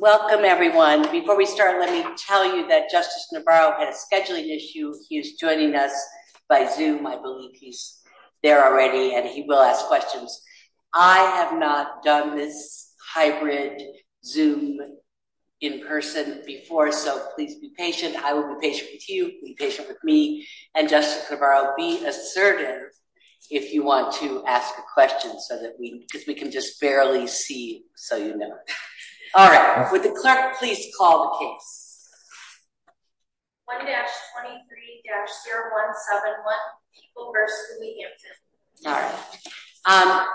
Welcome everyone. Before we start, let me tell you that Justice Navarro had a scheduling issue. He's joining us by Zoom. I believe he's there already and he will ask questions. I have not done this hybrid Zoom in person before, so please be patient. I will be patient with you, be patient with me. And Justice Navarro, be assertive if you want to ask a question, because we can just barely see you, so you know. All right, would the clerk please call the case?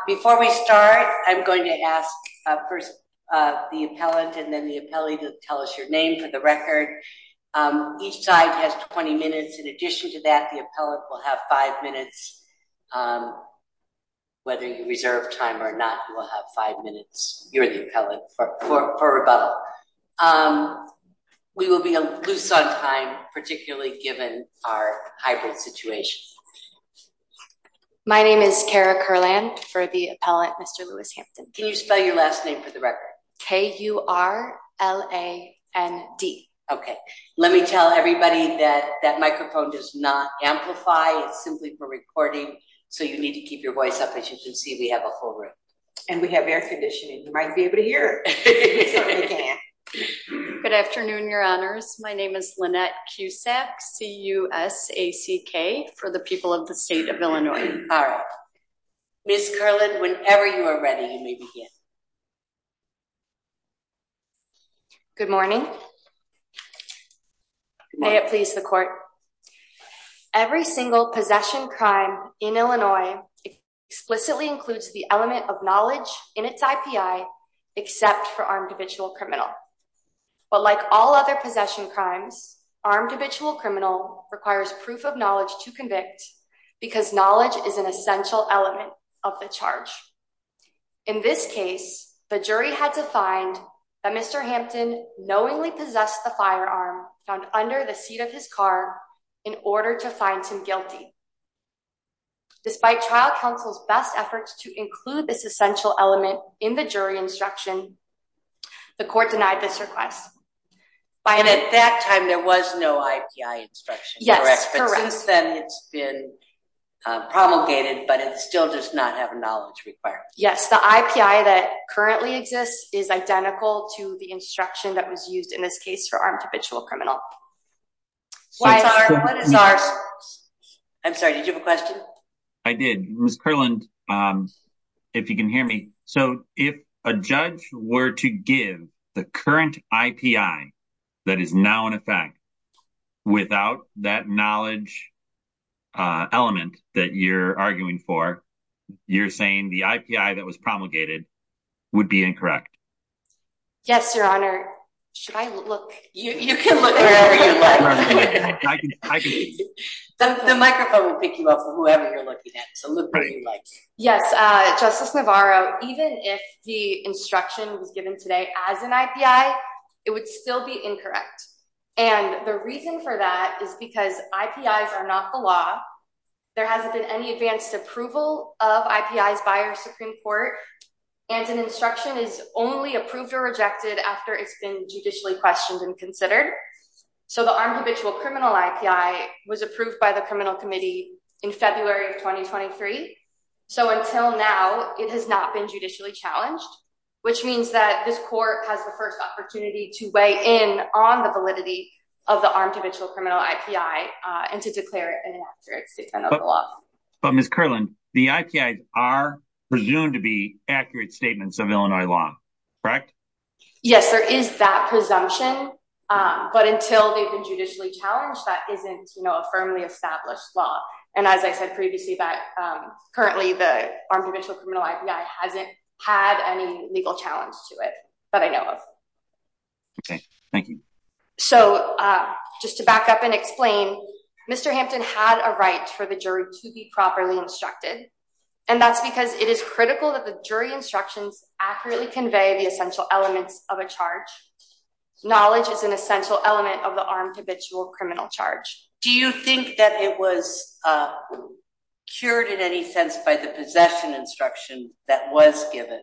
Before we start, I'm going to ask first the appellant and then the appellee to tell us your name for the record. Each side has 20 minutes. In addition to that, the appellant will have five minutes. Whether you reserve time or not, you will have five minutes. You're the appellant for rebuttal. We will be loose on time, particularly given our hybrid situation. My name is Kara Kurland for the appellant, Mr. Lewis Hampton. Can you spell your last name for the record? K-U-R-L-A-N-D. Okay, let me tell everybody that that microphone does not amplify. It's simply for recording, so you need to keep your voice up as you can see, we have a whole room. And we have air conditioning, you might be able to hear. Good afternoon, your honors. My name is Lynette Cusack, C-U-S-A-C-K, for the people of the state of Illinois. All right. Ms. Kurland, whenever you are ready, you may begin. Good morning. May it please the court. Every single possession crime in Illinois explicitly includes the element of knowledge in its IPI except for armed habitual criminal. But like all other possession crimes, armed habitual criminal requires proof of knowledge to convict because knowledge is an essential element of the charge. In this case, the jury had to find that Mr. Hampton knowingly possessed the firearm found under the seat of his car in order to find him guilty. Despite trial counsel's best efforts to include this essential element in the jury instruction, the court denied this request. And at that time, there was no IPI instruction. Yes, correct. But since then, it's been promulgated, but it still does not have a knowledge required. Yes, the IPI that currently exists is identical to the instruction that was ours. I'm sorry. Did you have a question? I did. Ms. Kurland, if you can hear me. So, if a judge were to give the current IPI that is now in effect without that knowledge element that you're arguing for, you're saying the IPI that was promulgated would be incorrect? Yes, Your Honor. Should I look? You can look wherever you like. The microphone will pick you up for whoever you're looking at, so look where you like. Yes, Justice Navarro, even if the instruction was given today as an IPI, it would still be incorrect. And the reason for that is because IPIs are not the law. There hasn't been any approved or rejected after it's been judicially questioned and considered. So, the Armed Habitual Criminal IPI was approved by the Criminal Committee in February of 2023. So, until now, it has not been judicially challenged, which means that this Court has the first opportunity to weigh in on the validity of the Armed Habitual Criminal IPI and to declare it an accurate statement of the law. But Ms. Kurland, the IPIs are presumed to be correct? Yes, there is that presumption, but until they've been judicially challenged, that isn't a firmly established law. And as I said previously, that currently the Armed Habitual Criminal IPI hasn't had any legal challenge to it that I know of. Okay, thank you. So, just to back up and explain, Mr. Hampton had a right for the jury to be properly instructed, and that's because it is critical that the jury instructions accurately convey the essential elements of a charge. Knowledge is an essential element of the Armed Habitual Criminal charge. Do you think that it was cured in any sense by the possession instruction that was given?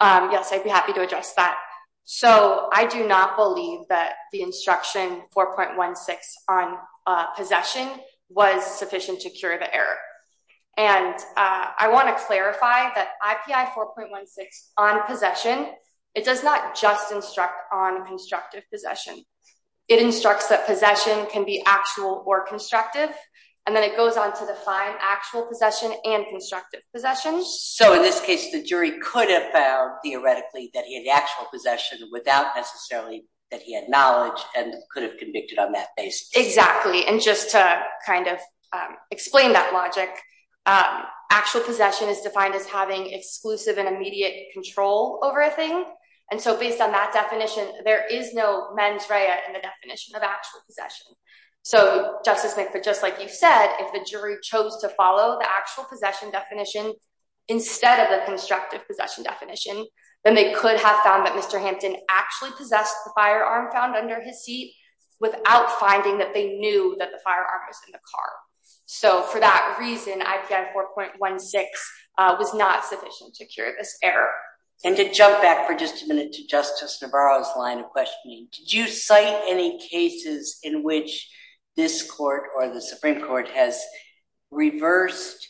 Yes, I'd be happy to address that. So, I do not believe that the instruction 4.16 on possession was sufficient to cure the error. And I want to clarify that IPI 4.16 on possession, it does not just instruct on constructive possession. It instructs that possession can be actual or constructive, and then it goes on to define actual possession and constructive possession. So, in this case, the jury could have found theoretically that he had actual possession without necessarily that he had knowledge and could have convicted on that basis. Exactly. And just to kind of explain that logic, actual possession is defined as having exclusive and immediate control over a thing. And so, based on that definition, there is no mens rea in the definition of actual possession. So, Justice McPhitt, just like you said, if the jury chose to follow the actual possession definition instead of the constructive possession definition, then they could have found that Mr. Hampton actually possessed the firearm found under his seat without finding that they knew that the firearm was in the car. So, for that reason, IPI 4.16 was not sufficient to cure this error. And to jump back for just a minute to Justice Navarro's line of questioning, did you cite any cases in which this court or the Supreme Court has reversed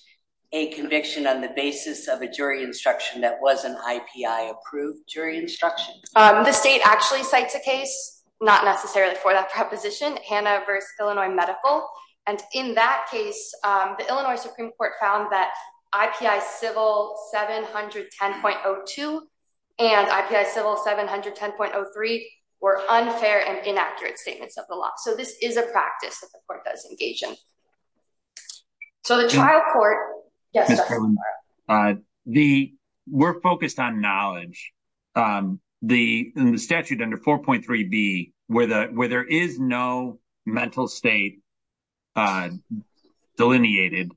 a conviction on the basis of a jury instruction that wasn't IPI-approved jury instruction? The state actually cites a case, not necessarily for that proposition, Hanna v. Illinois Medical. And in that case, the Illinois Supreme Court found that IPI Civil 710.02 and IPI Civil 710.03 were unfair and inaccurate statements of the law. So, this is a practice that the court does engage in. So, the trial court... Yes, Justice Navarro. The... We're focused on knowledge. In the statute under 4.3b, where there is no mental state delineated,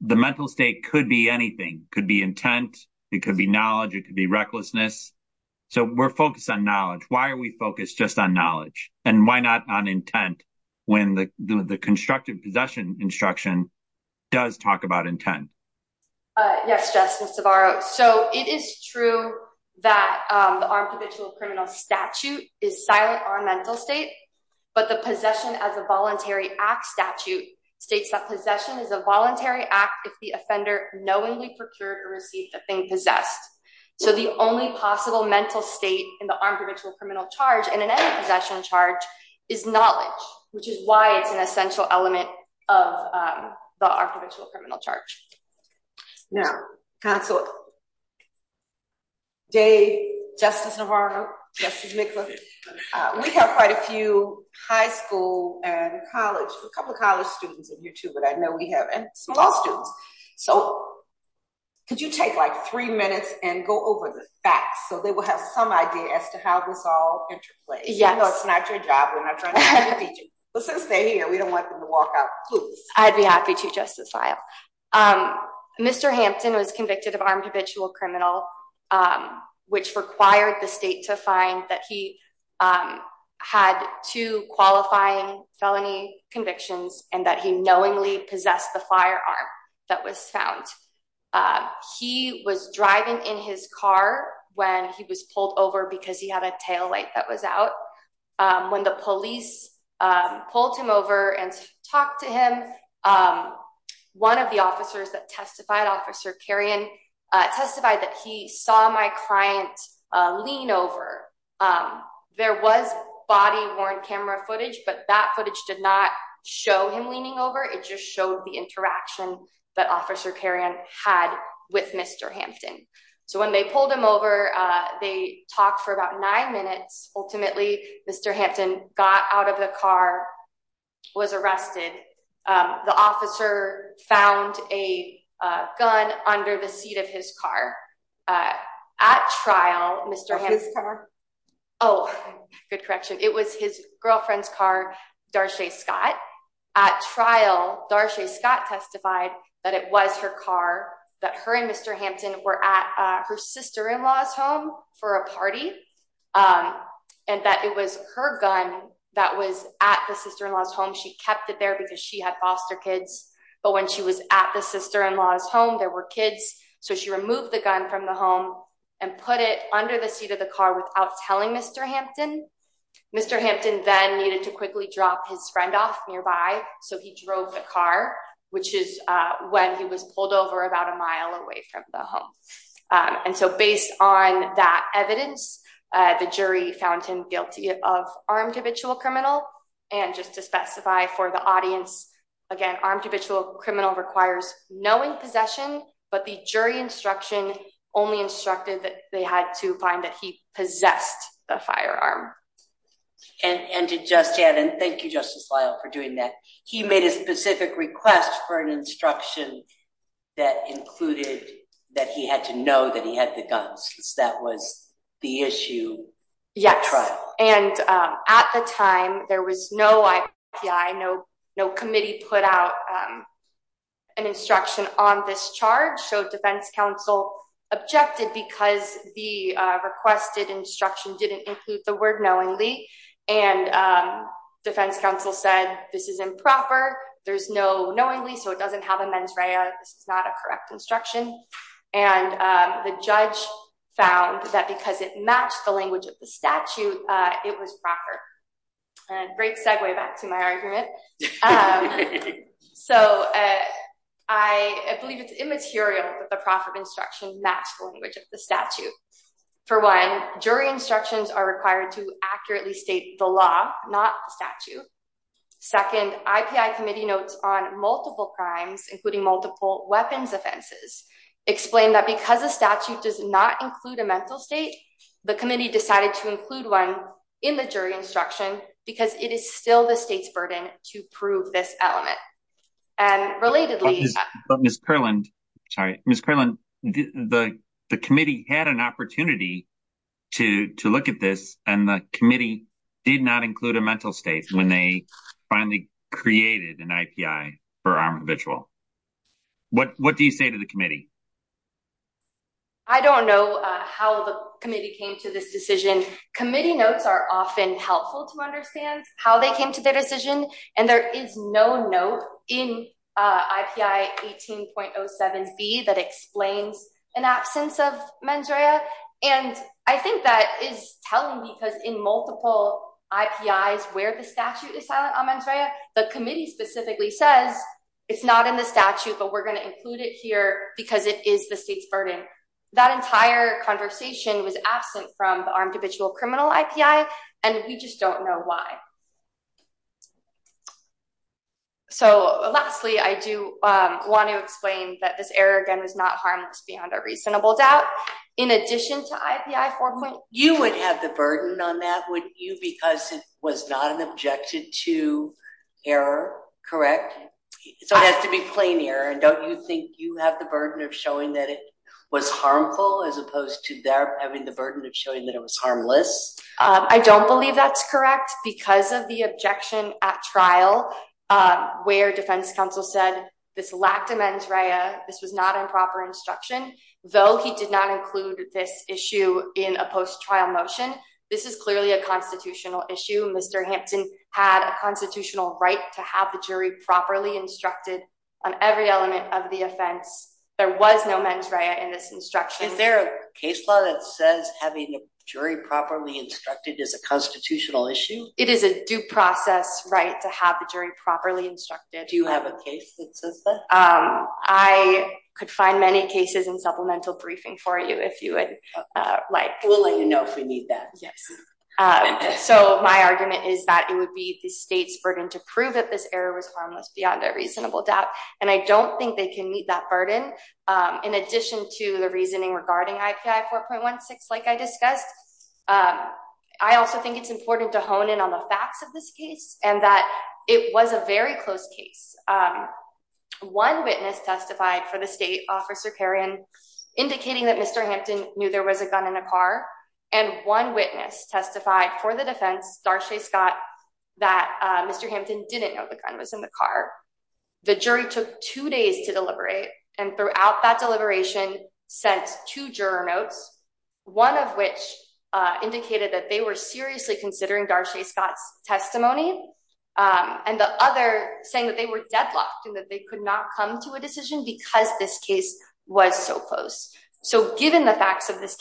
the mental state could be anything. It could be intent, it could be knowledge, it could be recklessness. So, we're focused on knowledge. Why are we focused just on knowledge? And why not on intent when the constructive possession instruction does talk about intent? Yes, Justice Navarro. So, it is true that the Armed Provisional Criminal Statute is silent on mental state, but the Possession as a Voluntary Act Statute states that possession is a voluntary act if the offender knowingly procured or received a thing possessed. So, the only possible mental state in the Armed Provisional Criminal Charge and in any possession charge is knowledge, which is why it's an essential element of the Armed Provisional Criminal Charge. Now, Counselor Day, Justice Navarro, Justice Mikla, we have quite a few high school and college, a couple of college students in here too, but I know we have small students. So, could you take like three minutes and go over the facts so they will have some idea as to how this interplays? Yes. No, it's not your job. We're not trying to teach you. Let's just stay here. We don't want them to walk out clueless. I'd be happy to, Justice Vial. Mr. Hampton was convicted of armed habitual criminal, which required the state to find that he had two qualifying felony convictions and that he knowingly possessed the firearm that was found. He was driving in his car when he was pulled over because he had a tail light that was out. When the police pulled him over and talked to him, one of the officers that testified, Officer Carrion, testified that he saw my client lean over. There was body worn camera footage, but that footage did not show him leaning over. It just showed the interaction that Officer Carrion had with Mr. Hampton. So, they pulled him over. They talked for about nine minutes. Ultimately, Mr. Hampton got out of the car, was arrested. The officer found a gun under the seat of his car. At trial, Mr. Hampton's car. Oh, good correction. It was his girlfriend's car, Darshay Scott. At trial, Darshay Scott testified that it was her car that her and Mr. Hampton were at her sister-in-law's home for a party and that it was her gun that was at the sister-in-law's home. She kept it there because she had foster kids, but when she was at the sister-in-law's home, there were kids. So, she removed the gun from the home and put it under the seat of the car without telling Mr. Hampton. Mr. Hampton then needed to quickly drop his friend off nearby. So, he drove the car, which is when he was pulled over about a mile away from the home. And so, based on that evidence, the jury found him guilty of armed habitual criminal. And just to specify for the audience, again, armed habitual criminal requires knowing possession, but the jury instruction only instructed that they had to find that he possessed a firearm. And to just add, and thank you, Justice Lyle, for doing that, he made a specific request for an instruction that included that he had to know that he had the guns because that was the issue at trial. Yes. And at the time, there was no IPI, no committee put out an instruction on this charge. So, defense counsel objected because the requested instruction didn't include the word knowingly. And defense counsel said, this is improper. There's no knowingly, so it doesn't have a mens rea. This is not a correct instruction. And the judge found that because it matched the language of the statute, it was correct. So, I believe it's immaterial that the profit instruction matched the language of the statute. For one, jury instructions are required to accurately state the law, not the statute. Second, IPI committee notes on multiple crimes, including multiple weapons offenses, explain that because the statute does not include a mental state, the committee decided to include one in the jury instruction, because it is still the state's burden to prove this element. And relatedly, Ms. Kerland, sorry, Ms. Kerland, the committee had an opportunity to look at this, and the committee did not include a mental state when they finally created an IPI for an individual. What do you say to the committee? I don't know how the committee came to this decision. Committee notes are often helpful to understand how they came to their decision. And there is no note in IPI 18.07B that explains an absence of mens rea. And I think that is telling, because in multiple IPIs where the statute is silent on mens rea, the committee specifically says, it's not in the statute, but we're going to include it here because it is the state's burden. That entire conversation was absent from the armed habitual criminal IPI, and we just don't know why. So lastly, I do want to explain that this error, again, was not harmless beyond a reasonable doubt. In addition to IPI 4. You would have the burden on that, wouldn't you, because it was not an objection to error, correct? So it has to be plain error. And don't you think you have the burden of showing that it was harmful as opposed to them having the burden of showing that it was harmless? I don't believe that's correct because of the objection at trial where defense counsel said this lacked a mens rea, this was not improper instruction, though he did not include this issue in a post-trial motion. This is clearly a constitutional issue. Mr. Hampton had a jury properly instructed on every element of the offense. There was no mens rea in this instruction. Is there a case law that says having a jury properly instructed is a constitutional issue? It is a due process right to have the jury properly instructed. Do you have a case that says that? I could find many cases in supplemental briefing for you if you would like. We'll let you know if we need that. Yes. So my argument is that it would be the state's burden to prove that error was harmless beyond a reasonable doubt. And I don't think they can meet that burden. In addition to the reasoning regarding IPI 4.16, like I discussed, I also think it's important to hone in on the facts of this case and that it was a very close case. One witness testified for the state, Officer Kerrion, indicating that Mr. Hampton knew there was a gun in a car. And one witness testified for the defense, Darshay Scott, that Mr. Hampton didn't know the gun was in the car. The jury took two days to deliberate, and throughout that deliberation sent two juror notes, one of which indicated that they were seriously considering Darshay Scott's testimony, and the other saying that they were deadlocked and that they could not come to a decision because this case was so close. So given the facts of this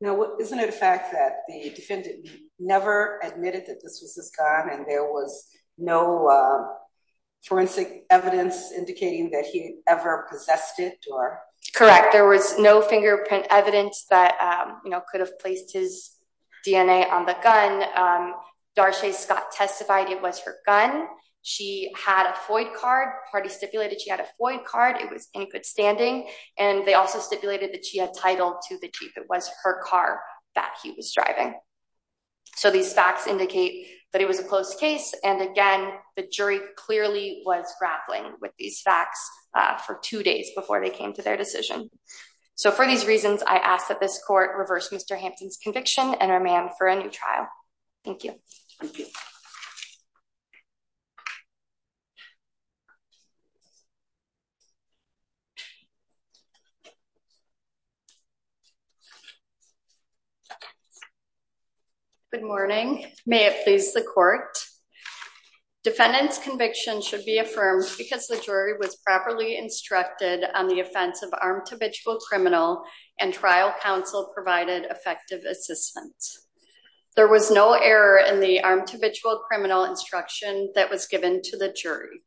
Now, isn't it a fact that the defendant never admitted that this was his gun and there was no forensic evidence indicating that he ever possessed it? Correct. There was no fingerprint evidence that, you know, could have placed his DNA on the gun. Darshay Scott testified it was her gun. She had a FOID card. Party stipulated she had a FOID card. It was in good standing. And they also stipulated that she had title to the chief. It was her car that he was driving. So these facts indicate that it was a close case. And again, the jury clearly was grappling with these facts for two days before they came to their decision. So for these reasons, I ask that this court reverse Mr. Hampton's conviction and remand for a new trial. Thank you. Good morning. May it please the court. Defendant's conviction should be affirmed because the jury was properly instructed on the offense of armed habitual criminal and trial counsel provided effective assistance. There was no error in the armed habitual criminal instruction that was given to the jury.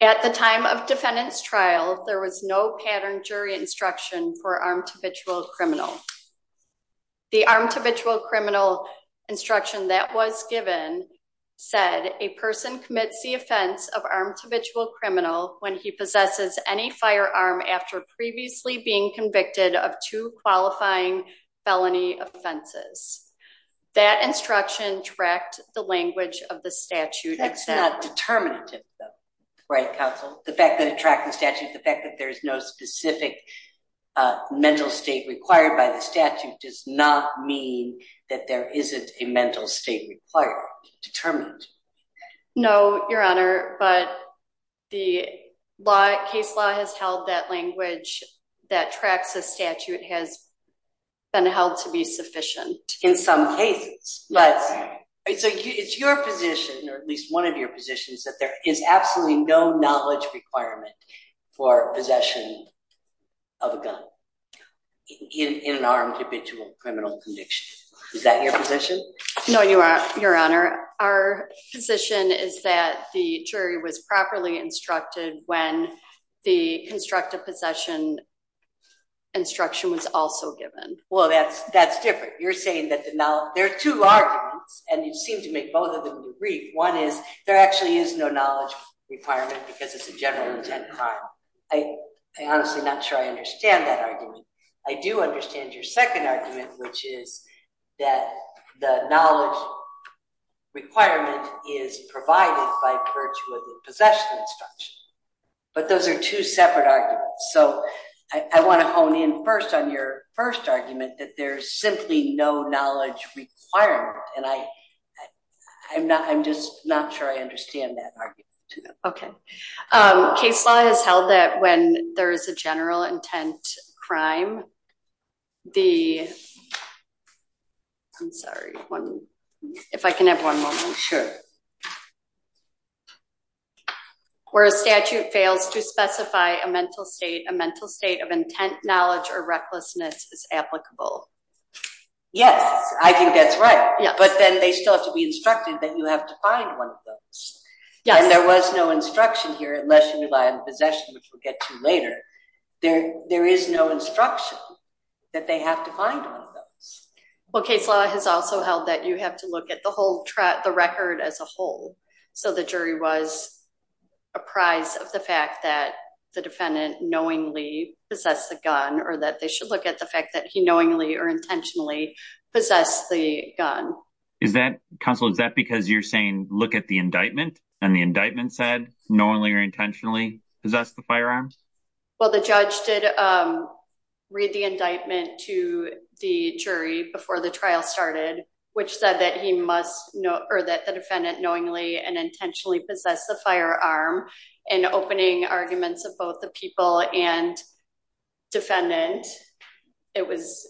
At the time of defendant's trial, there was no pattern jury instruction for armed habitual criminal. The armed habitual criminal instruction that was given said a person commits the offense of armed habitual criminal when he possesses any firearm after previously being felony offenses. That instruction tracked the language of the statute. That's not determinative, though. Right, counsel. The fact that it tracked the statute, the fact that there is no specific mental state required by the statute does not mean that there isn't a mental state required determined. No, your honor. But the law case law has held that language that tracks the statute has been held to be sufficient in some cases. But it's your position, or at least one of your positions, that there is absolutely no knowledge requirement for possession of a gun in an armed habitual criminal conviction. Is that your position? No, your honor. Our position is that the jury was properly instructed when the constructive possession instruction was also given. Well, that's different. You're saying that there are two arguments, and you seem to make both of them agree. One is there actually is no knowledge requirement because it's a general intent crime. I'm honestly not sure I understand that argument. I do understand your second argument, which is that the knowledge requirement is provided by virtue of the possession instruction. But those are two separate arguments. So I want to hone in first on your first argument that there's simply no knowledge requirement, and I'm just not sure I understand that argument. Okay. Case law has held that when there is a general intent crime, the... I'm sorry. If I can have one moment. Sure. Where a statute fails to specify a mental state, a mental state of intent, knowledge, or recklessness is applicable. Yes, I think that's right. But then they still have to be instructed that you have to find one of those. And there was no instruction here unless you rely on possession, which we'll get to later. There is no instruction that they have to find one of those. Well, case law has also held that you have to look at the whole track, the record as a whole. So the jury was apprised of the fact that the defendant knowingly possessed the gun, or that they should look at the fact that he knowingly or intentionally possessed the gun. Counsel, is that because you're saying look at the indictment and the indictment said knowingly or intentionally possessed the firearms? Well, the judge did read the indictment to the jury before the trial started, which said that he must know or that the defendant knowingly and intentionally possessed the firearm. In opening arguments of both the people and defendant, it was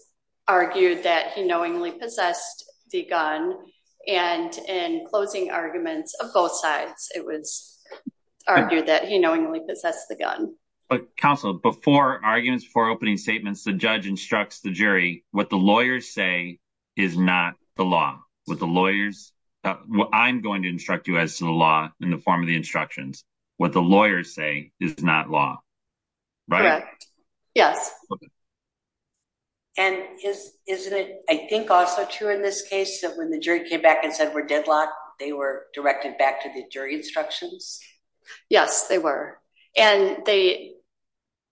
argued that he knowingly possessed the gun. And in closing arguments of both sides, it was argued that he knowingly possessed the gun. But counsel, before arguments, before opening statements, the judge instructs the jury, what the lawyers say is not the law. What the lawyers, what I'm going to instruct you as to the law in the form of the instructions, what the lawyers say is not law. Correct. Yes. And isn't it, I think also true in this case, that when the jury came back and said we're deadlocked, they were directed back to the jury instructions? Yes, they were. And they,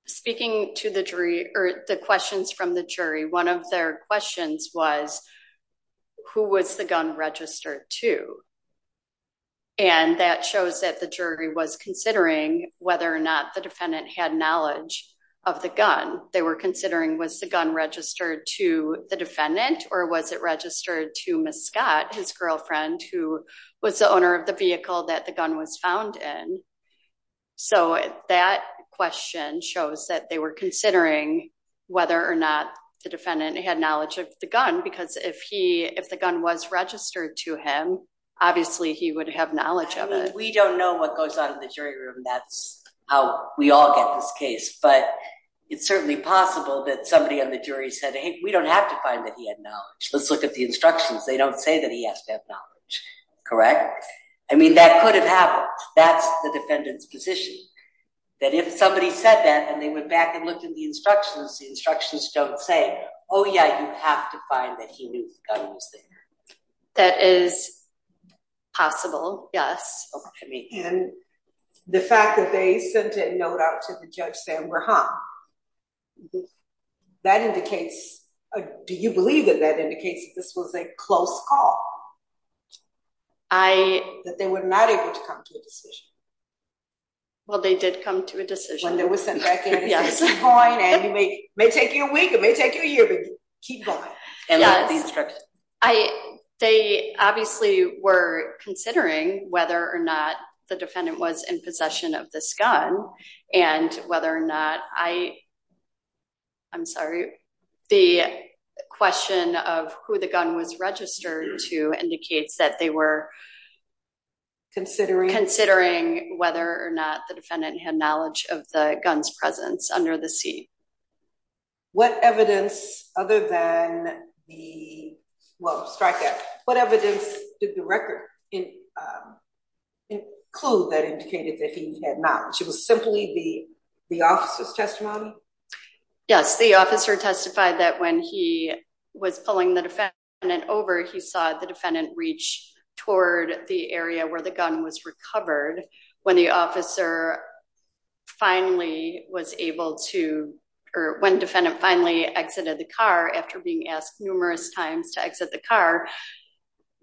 speaking to the jury or the questions from the jury, one of their questions was, who was the gun registered to? And that shows that the jury was considering whether or not the defendant had knowledge of the gun. They were considering was the gun registered to the defendant or was it registered to Miss Scott, his girlfriend, who was the owner of the vehicle that the gun was found in? So that question shows that they were considering whether or not the defendant had knowledge of the gun, because if he, if the gun was registered to him, obviously he would have knowledge of it. We don't know what goes on in the jury room. That's how we all get this case. But it's certainly possible that somebody on the jury said, hey, we don't have to find that he had knowledge. Let's look at the instructions. They don't say that he has to have knowledge, correct? I mean, that could have happened. That's the defendant's position, that if somebody said that and they went back and looked at the instructions, the instructions don't say, oh yeah, you have to find that he knew the gun was there. That is possible, yes. And the fact that they sent a note out to the Judge Sam Do you believe that that indicates that this was a close call? That they were not able to come to a decision? Well, they did come to a decision. When they were sent back in at this point, and it may take you a week, it may take you a year, but keep going. And look at the instructions. They obviously were considering whether or not the question of who the gun was registered to indicates that they were considering whether or not the defendant had knowledge of the gun's presence under the seat. What evidence, other than the strikeout, what evidence did the record include that indicated that he had knowledge? It was simply the officer's testimony? Yes, the officer testified that when he was pulling the defendant over, he saw the defendant reach toward the area where the gun was recovered. When the officer finally was able to, or when defendant finally exited the car after being asked numerous times to exit the car,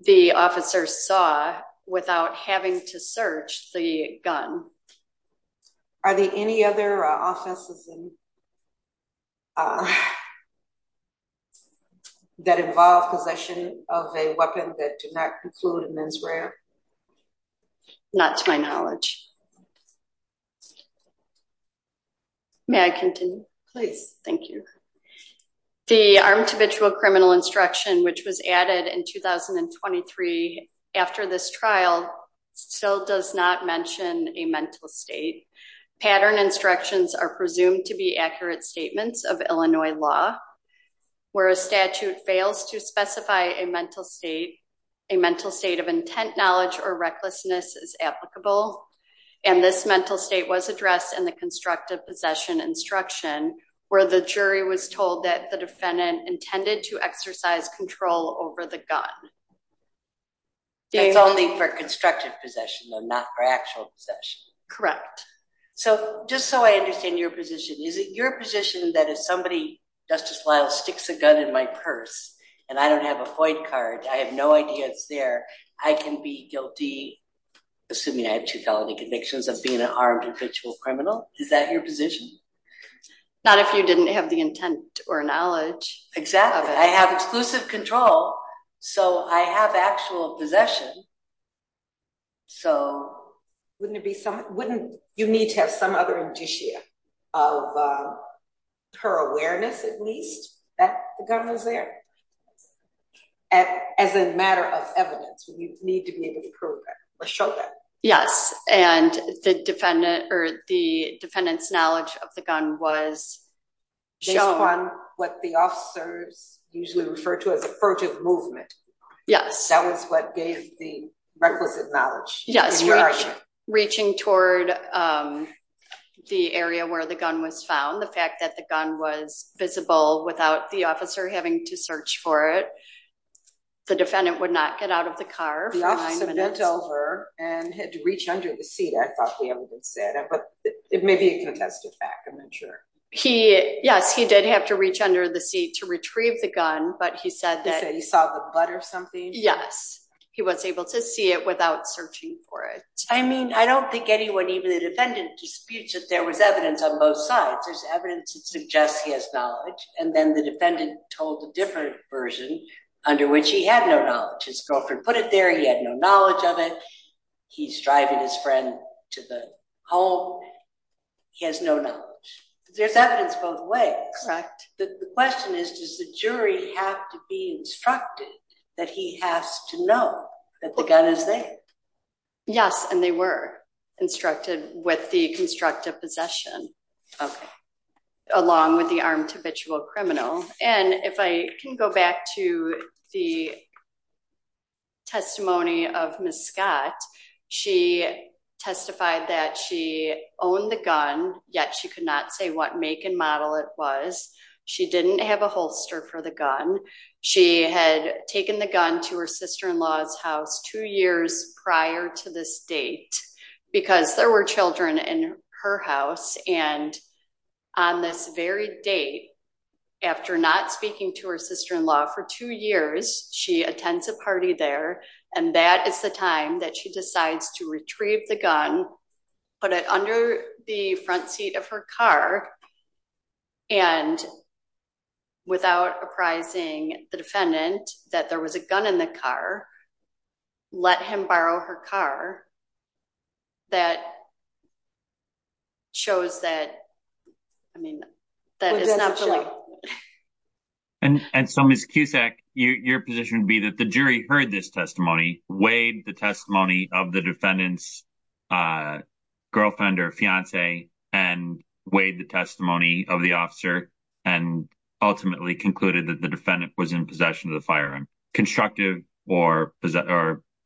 the officer saw without having to search the gun. Are there any other offenses that involve possession of a weapon that do not include a mens rea? Not to my knowledge. May I continue? Please. Thank you. The armed habitual criminal instruction, which was added in 2023 after this trial, still does not mention a mental state. Pattern instructions are presumed to be accurate statements of Illinois law. Where a statute fails to specify a mental state, a mental state of intent, knowledge, or recklessness is applicable. And this mental state was addressed in the constructive possession instruction, where the jury was not allowed to use a gun. That's only for constructive possession and not for actual possession. Correct. So just so I understand your position, is it your position that if somebody, Justice Lyle, sticks a gun in my purse and I don't have a FOID card, I have no idea it's there, I can be guilty, assuming I have two felony convictions, of being an armed habitual criminal? Is that your position? Not if you didn't have the intent or knowledge. Exactly. I have exclusive control, so I have actual possession. So wouldn't it be something, wouldn't you need to have some other indicia of her awareness, at least, that the gun was there? As a matter of evidence, would you need to be able to prove that or show that? Yes, and the defendant or the defendant's movement. Yes. That was what gave the requisite knowledge. Yes. Reaching toward the area where the gun was found, the fact that the gun was visible without the officer having to search for it. The defendant would not get out of the car for five minutes. The officer went over and had to reach under the seat. I thought the evidence said that, but it may be a contested fact. I'm not sure. He, yes, he did have to reach under the seat to retrieve the gun, but he said that he saw the butt or something. Yes. He was able to see it without searching for it. I mean, I don't think anyone, even the defendant disputes that there was evidence on both sides. There's evidence that suggests he has knowledge, and then the defendant told a different version under which he had no knowledge. His girlfriend put it there. He had no knowledge of it. He's driving his friend to the home. He has no knowledge. There's evidence both ways. Correct. The question is, does the jury have to be instructed that he has to know that the gun is there? Yes, and they were instructed with the constructive possession, along with the armed habitual criminal. If I can go back to the testimony of Ms. Scott, she testified that she owned the gun, yet she could not say what make and model it was. She didn't have a holster for the gun. She had taken the gun to her sister-in-law's house two years prior to this date because there were children in her house, and on this very date, after not speaking to her sister-in-law for two years, she attends a party there, and that is the time that she decides to retrieve the gun, put it under the front seat of her car, and without apprising the defendant that there was a gun in the car, let him borrow her car. That shows that, I mean, that is not the way. And so, Ms. Cusack, your position would be that the jury heard this testimony, weighed the testimony of the defendant's girlfriend or fiance, and weighed the testimony of the officer, and ultimately concluded that the defendant was in possession of the firearm, constructive or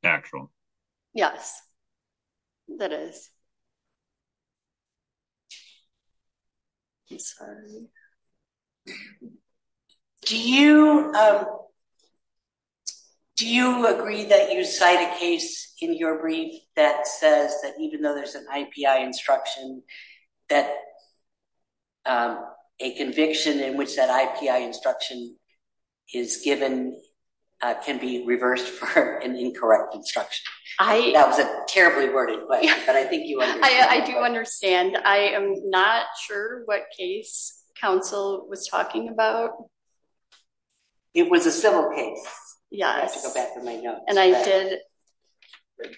actual? Yes, that is. I'm sorry. Do you agree that you cite a case in your brief that says that even though there's an IPI instruction, that a conviction in which that IPI instruction is given can be reversed for incorrect instruction? That was a terribly worded question, but I think you understand. I do understand. I am not sure what case counsel was talking about. It was a civil case. Yes. And I did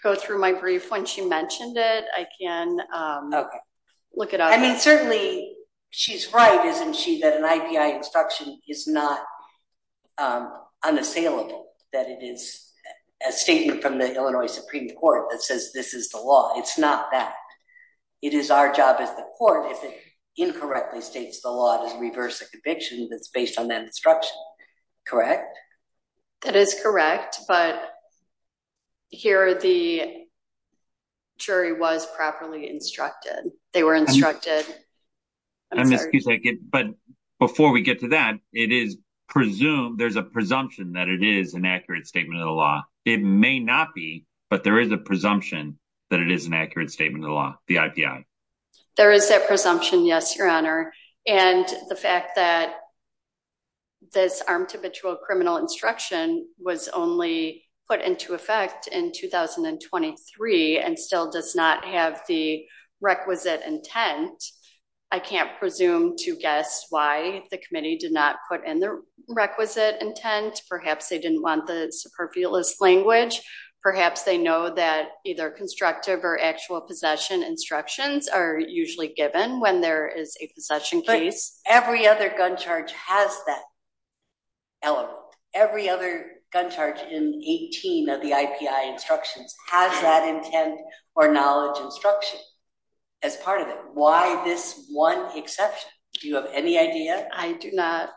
go through my brief. When she mentioned it, I can look it up. I mean, certainly, she's right, isn't she, that an IPI instruction is not unassailable, that it is a statement from the Illinois Supreme Court that says this is the law. It's not that. It is our job as the court, if it incorrectly states the law, to reverse a conviction that's based on that instruction, correct? That is correct, but here the jury was properly instructed. They were instructed. I'm sorry. But before we get to that, there's a presumption that it is an accurate statement of the law. It may not be, but there is a presumption that it is an accurate statement of the law, the IPI. There is that presumption, yes, Your Honor. And the fact that this armed to patrol criminal instruction was only put into effect in 2023 and still does not have the requisite intent, I can't presume to guess why the committee did not put in the requisite intent. Perhaps they didn't want the superfluous language. Perhaps they know that either constructive or actual possession instructions are usually given when there is a possession case. Every other gun charge has that element. Every other gun charge in 18 of the IPI instructions has that intent or knowledge instruction as part of it. Why this one exception? Do you have any idea? I do not.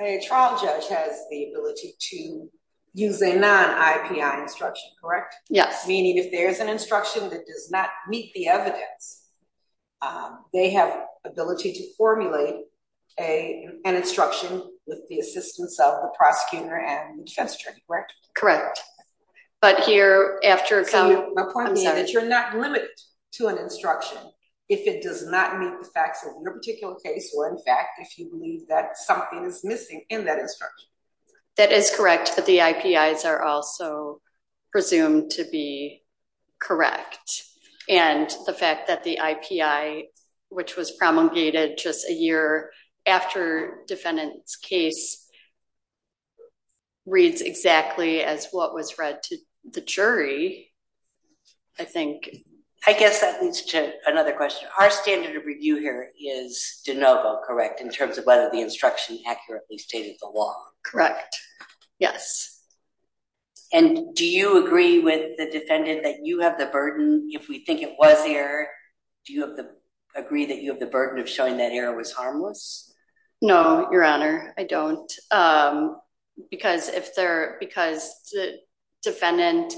A trial judge has the ability to use a non-IPI instruction, correct? Yes. Meaning if there's an instruction that does not meet the evidence, they have ability to formulate an instruction with the assistance of the prosecutor and defense attorney, correct? Correct. But here, after a couple- My point being that you're not limited to an instruction if it does not meet the facts of your particular case, or in fact, if you believe that something is missing in that instruction. That is correct, but the IPIs are also to be presumed to be correct. And the fact that the IPI, which was promulgated just a year after defendant's case, reads exactly as what was read to the jury, I think- I guess that leads to another question. Our standard of review here is de novo, correct, in terms of whether the instruction accurately stated the law. Correct. Yes. And do you agree with the defendant that you have the burden, if we think it was error, do you agree that you have the burden of showing that error was harmless? No, your honor, I don't. Because the defendant,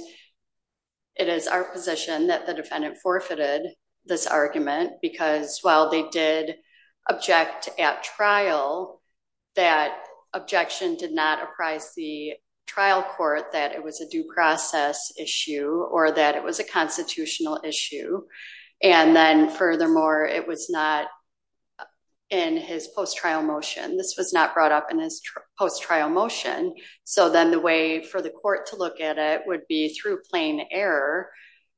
it is our position that the defendant forfeited this argument because while they did object at trial, that objection did not apprise the trial court that it was a due process issue or that it was a constitutional issue. And then, furthermore, it was not in his post-trial motion. This was not brought up in his post-trial motion. So then the way for the court to look at it would be through plain error,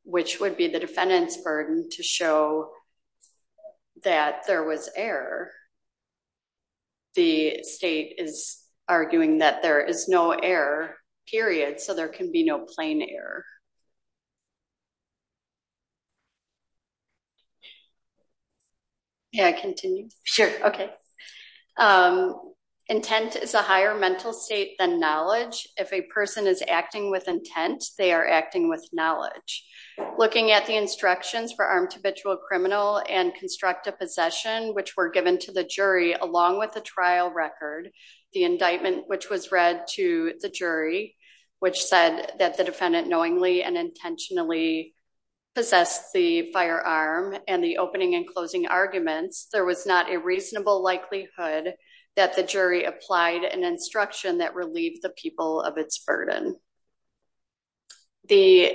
which would be the defendant's burden to show that there was error. The state is arguing that there is no error, period. So there can be no plain error. Yeah, continue. Sure. Okay. Intent is a higher mental state than knowledge. If a person is acting with intent, they are acting with knowledge. Looking at the instructions for armed habitual criminal and constructive possession, which were given to the jury along with the trial record, the indictment, which was read to the jury, which said that the defendant knowingly and intentionally possessed the firearm and the opening and closing arguments, there was not a reasonable likelihood that the jury applied an instruction that relieved the people of its burden. The,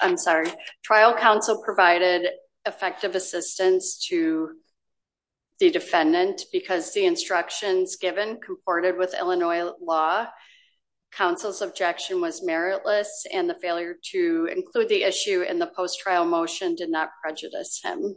I'm sorry, trial counsel provided effective assistance to the defendant because the instructions given comported with Illinois law, counsel's objection was meritless and the failure to include the issue in the post-trial motion did not prejudice him.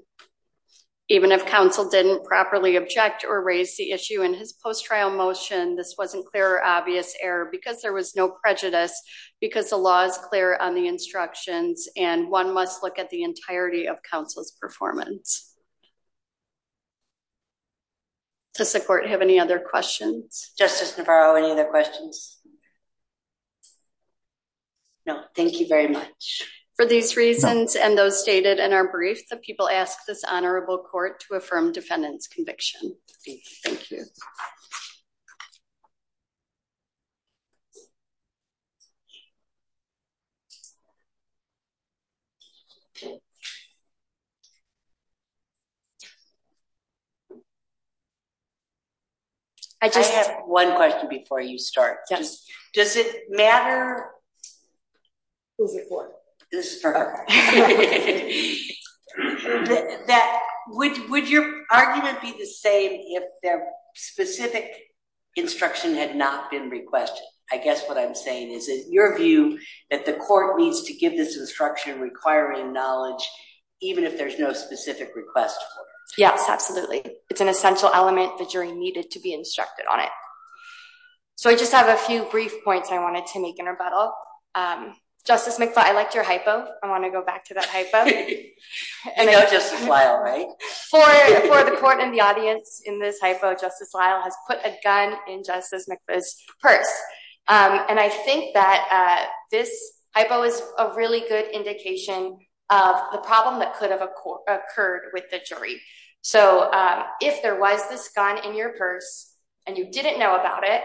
Even if counsel didn't properly object or raise the issue in his post-trial motion, this wasn't clear or obvious error because there was no prejudice because the law is clear on the instructions and one must look at the entirety of counsel's performance. Does the court have any other questions? Justice Navarro, any other questions? No, thank you very much. For these reasons and those stated in our brief, the people ask this honorable court to affirm defendant's conviction. Thank you. I just have one question before you start. Does it matter? Who's it for? This is for her. That, would your argument be the same if their specific instruction had not been requested? I guess what I'm saying is that your view that the court needs to give this instruction requiring knowledge even if there's no specific request for it. Yes, absolutely. It's an essential element the jury needed to be instructed on it. So I just have a few brief points I wanted to make in rebuttal. Justice McFaul, I liked your hypo. I want to go back to that hypo. I know Justice Lyle, right? For the court and the audience in this hypo, Justice Lyle has put a gun in Justice McFaul's purse. And I think that this hypo is a really good indication of the problem that could have occurred with the jury. So if there was this gun in your purse and you didn't know about it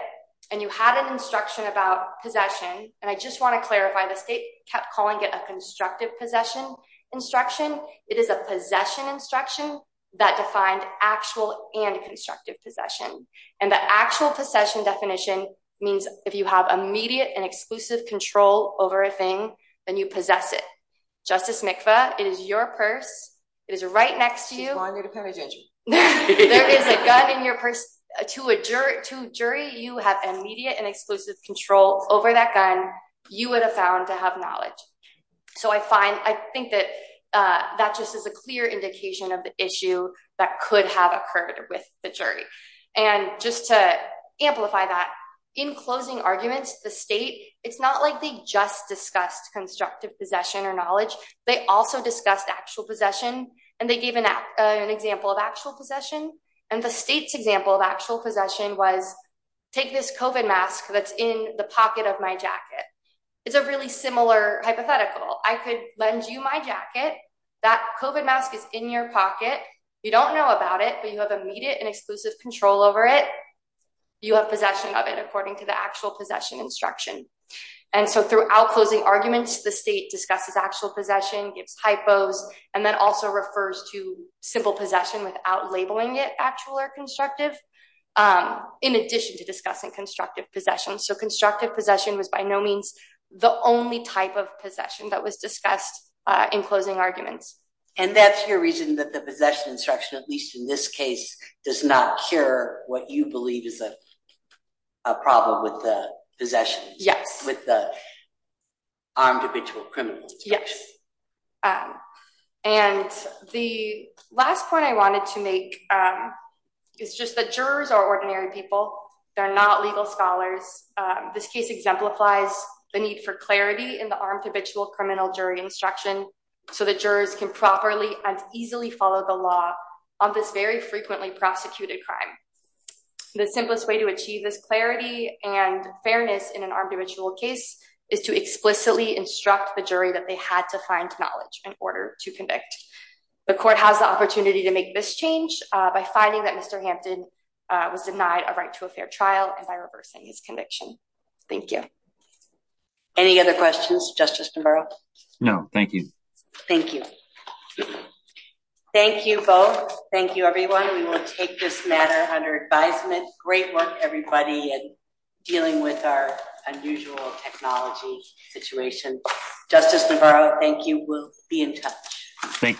and you had an instruction about possession, and I just want to clarify the state kept calling it a constructive possession instruction. It is a possession instruction that defined actual and constructive possession. And the actual possession definition means if you have immediate and exclusive control over a thing then you possess it. Justice McFaul, it is your purse. It is right next to you. There is a gun in your purse. To a jury, you have immediate and exclusive control over that gun. You would have found to have knowledge. So I find, I think that that just is a clear indication of the issue that could have occurred with the jury. And just to amplify that, in closing arguments, the state, it's not like they just discussed constructive possession or knowledge. They also discussed actual possession and they gave an example of actual possession. And the state's example of actual possession was take this COVID mask that's in the pocket of my jacket. It's a really similar hypothetical. I could lend you my jacket. That COVID mask is in your pocket. You don't know about it, but you have immediate and exclusive control over it. You have possession of it according to the actual possession instruction. And so throughout closing arguments, the state discusses actual possession, gives hypos, and then also refers to simple possession without labeling it actual or constructive, in addition to discussing constructive possession. So constructive possession was by no means the only type of possession that was discussed in closing arguments. And that's your reason that the possession instruction, at least in this case, does not cure what you believe is a problem with the possession, with the armed habitual criminal instruction. Yes. And the last point I wanted to make is just that jurors are ordinary people. They're not legal scholars. This case exemplifies the need for clarity in the armed habitual criminal jury instruction so that jurors can properly and frequently prosecute a crime. The simplest way to achieve this clarity and fairness in an armed habitual case is to explicitly instruct the jury that they had to find knowledge in order to convict. The court has the opportunity to make this change by finding that Mr. Hampton was denied a right to a fair trial and by reversing his conviction. Thank you. Any other questions, Justice Navarro? No, thank you. Thank you. Thank you both. Thank you, everyone. We will take this matter under advisement. Great work, everybody, in dealing with our unusual technology situation. Justice Navarro, thank you. We'll be in touch. Thank you.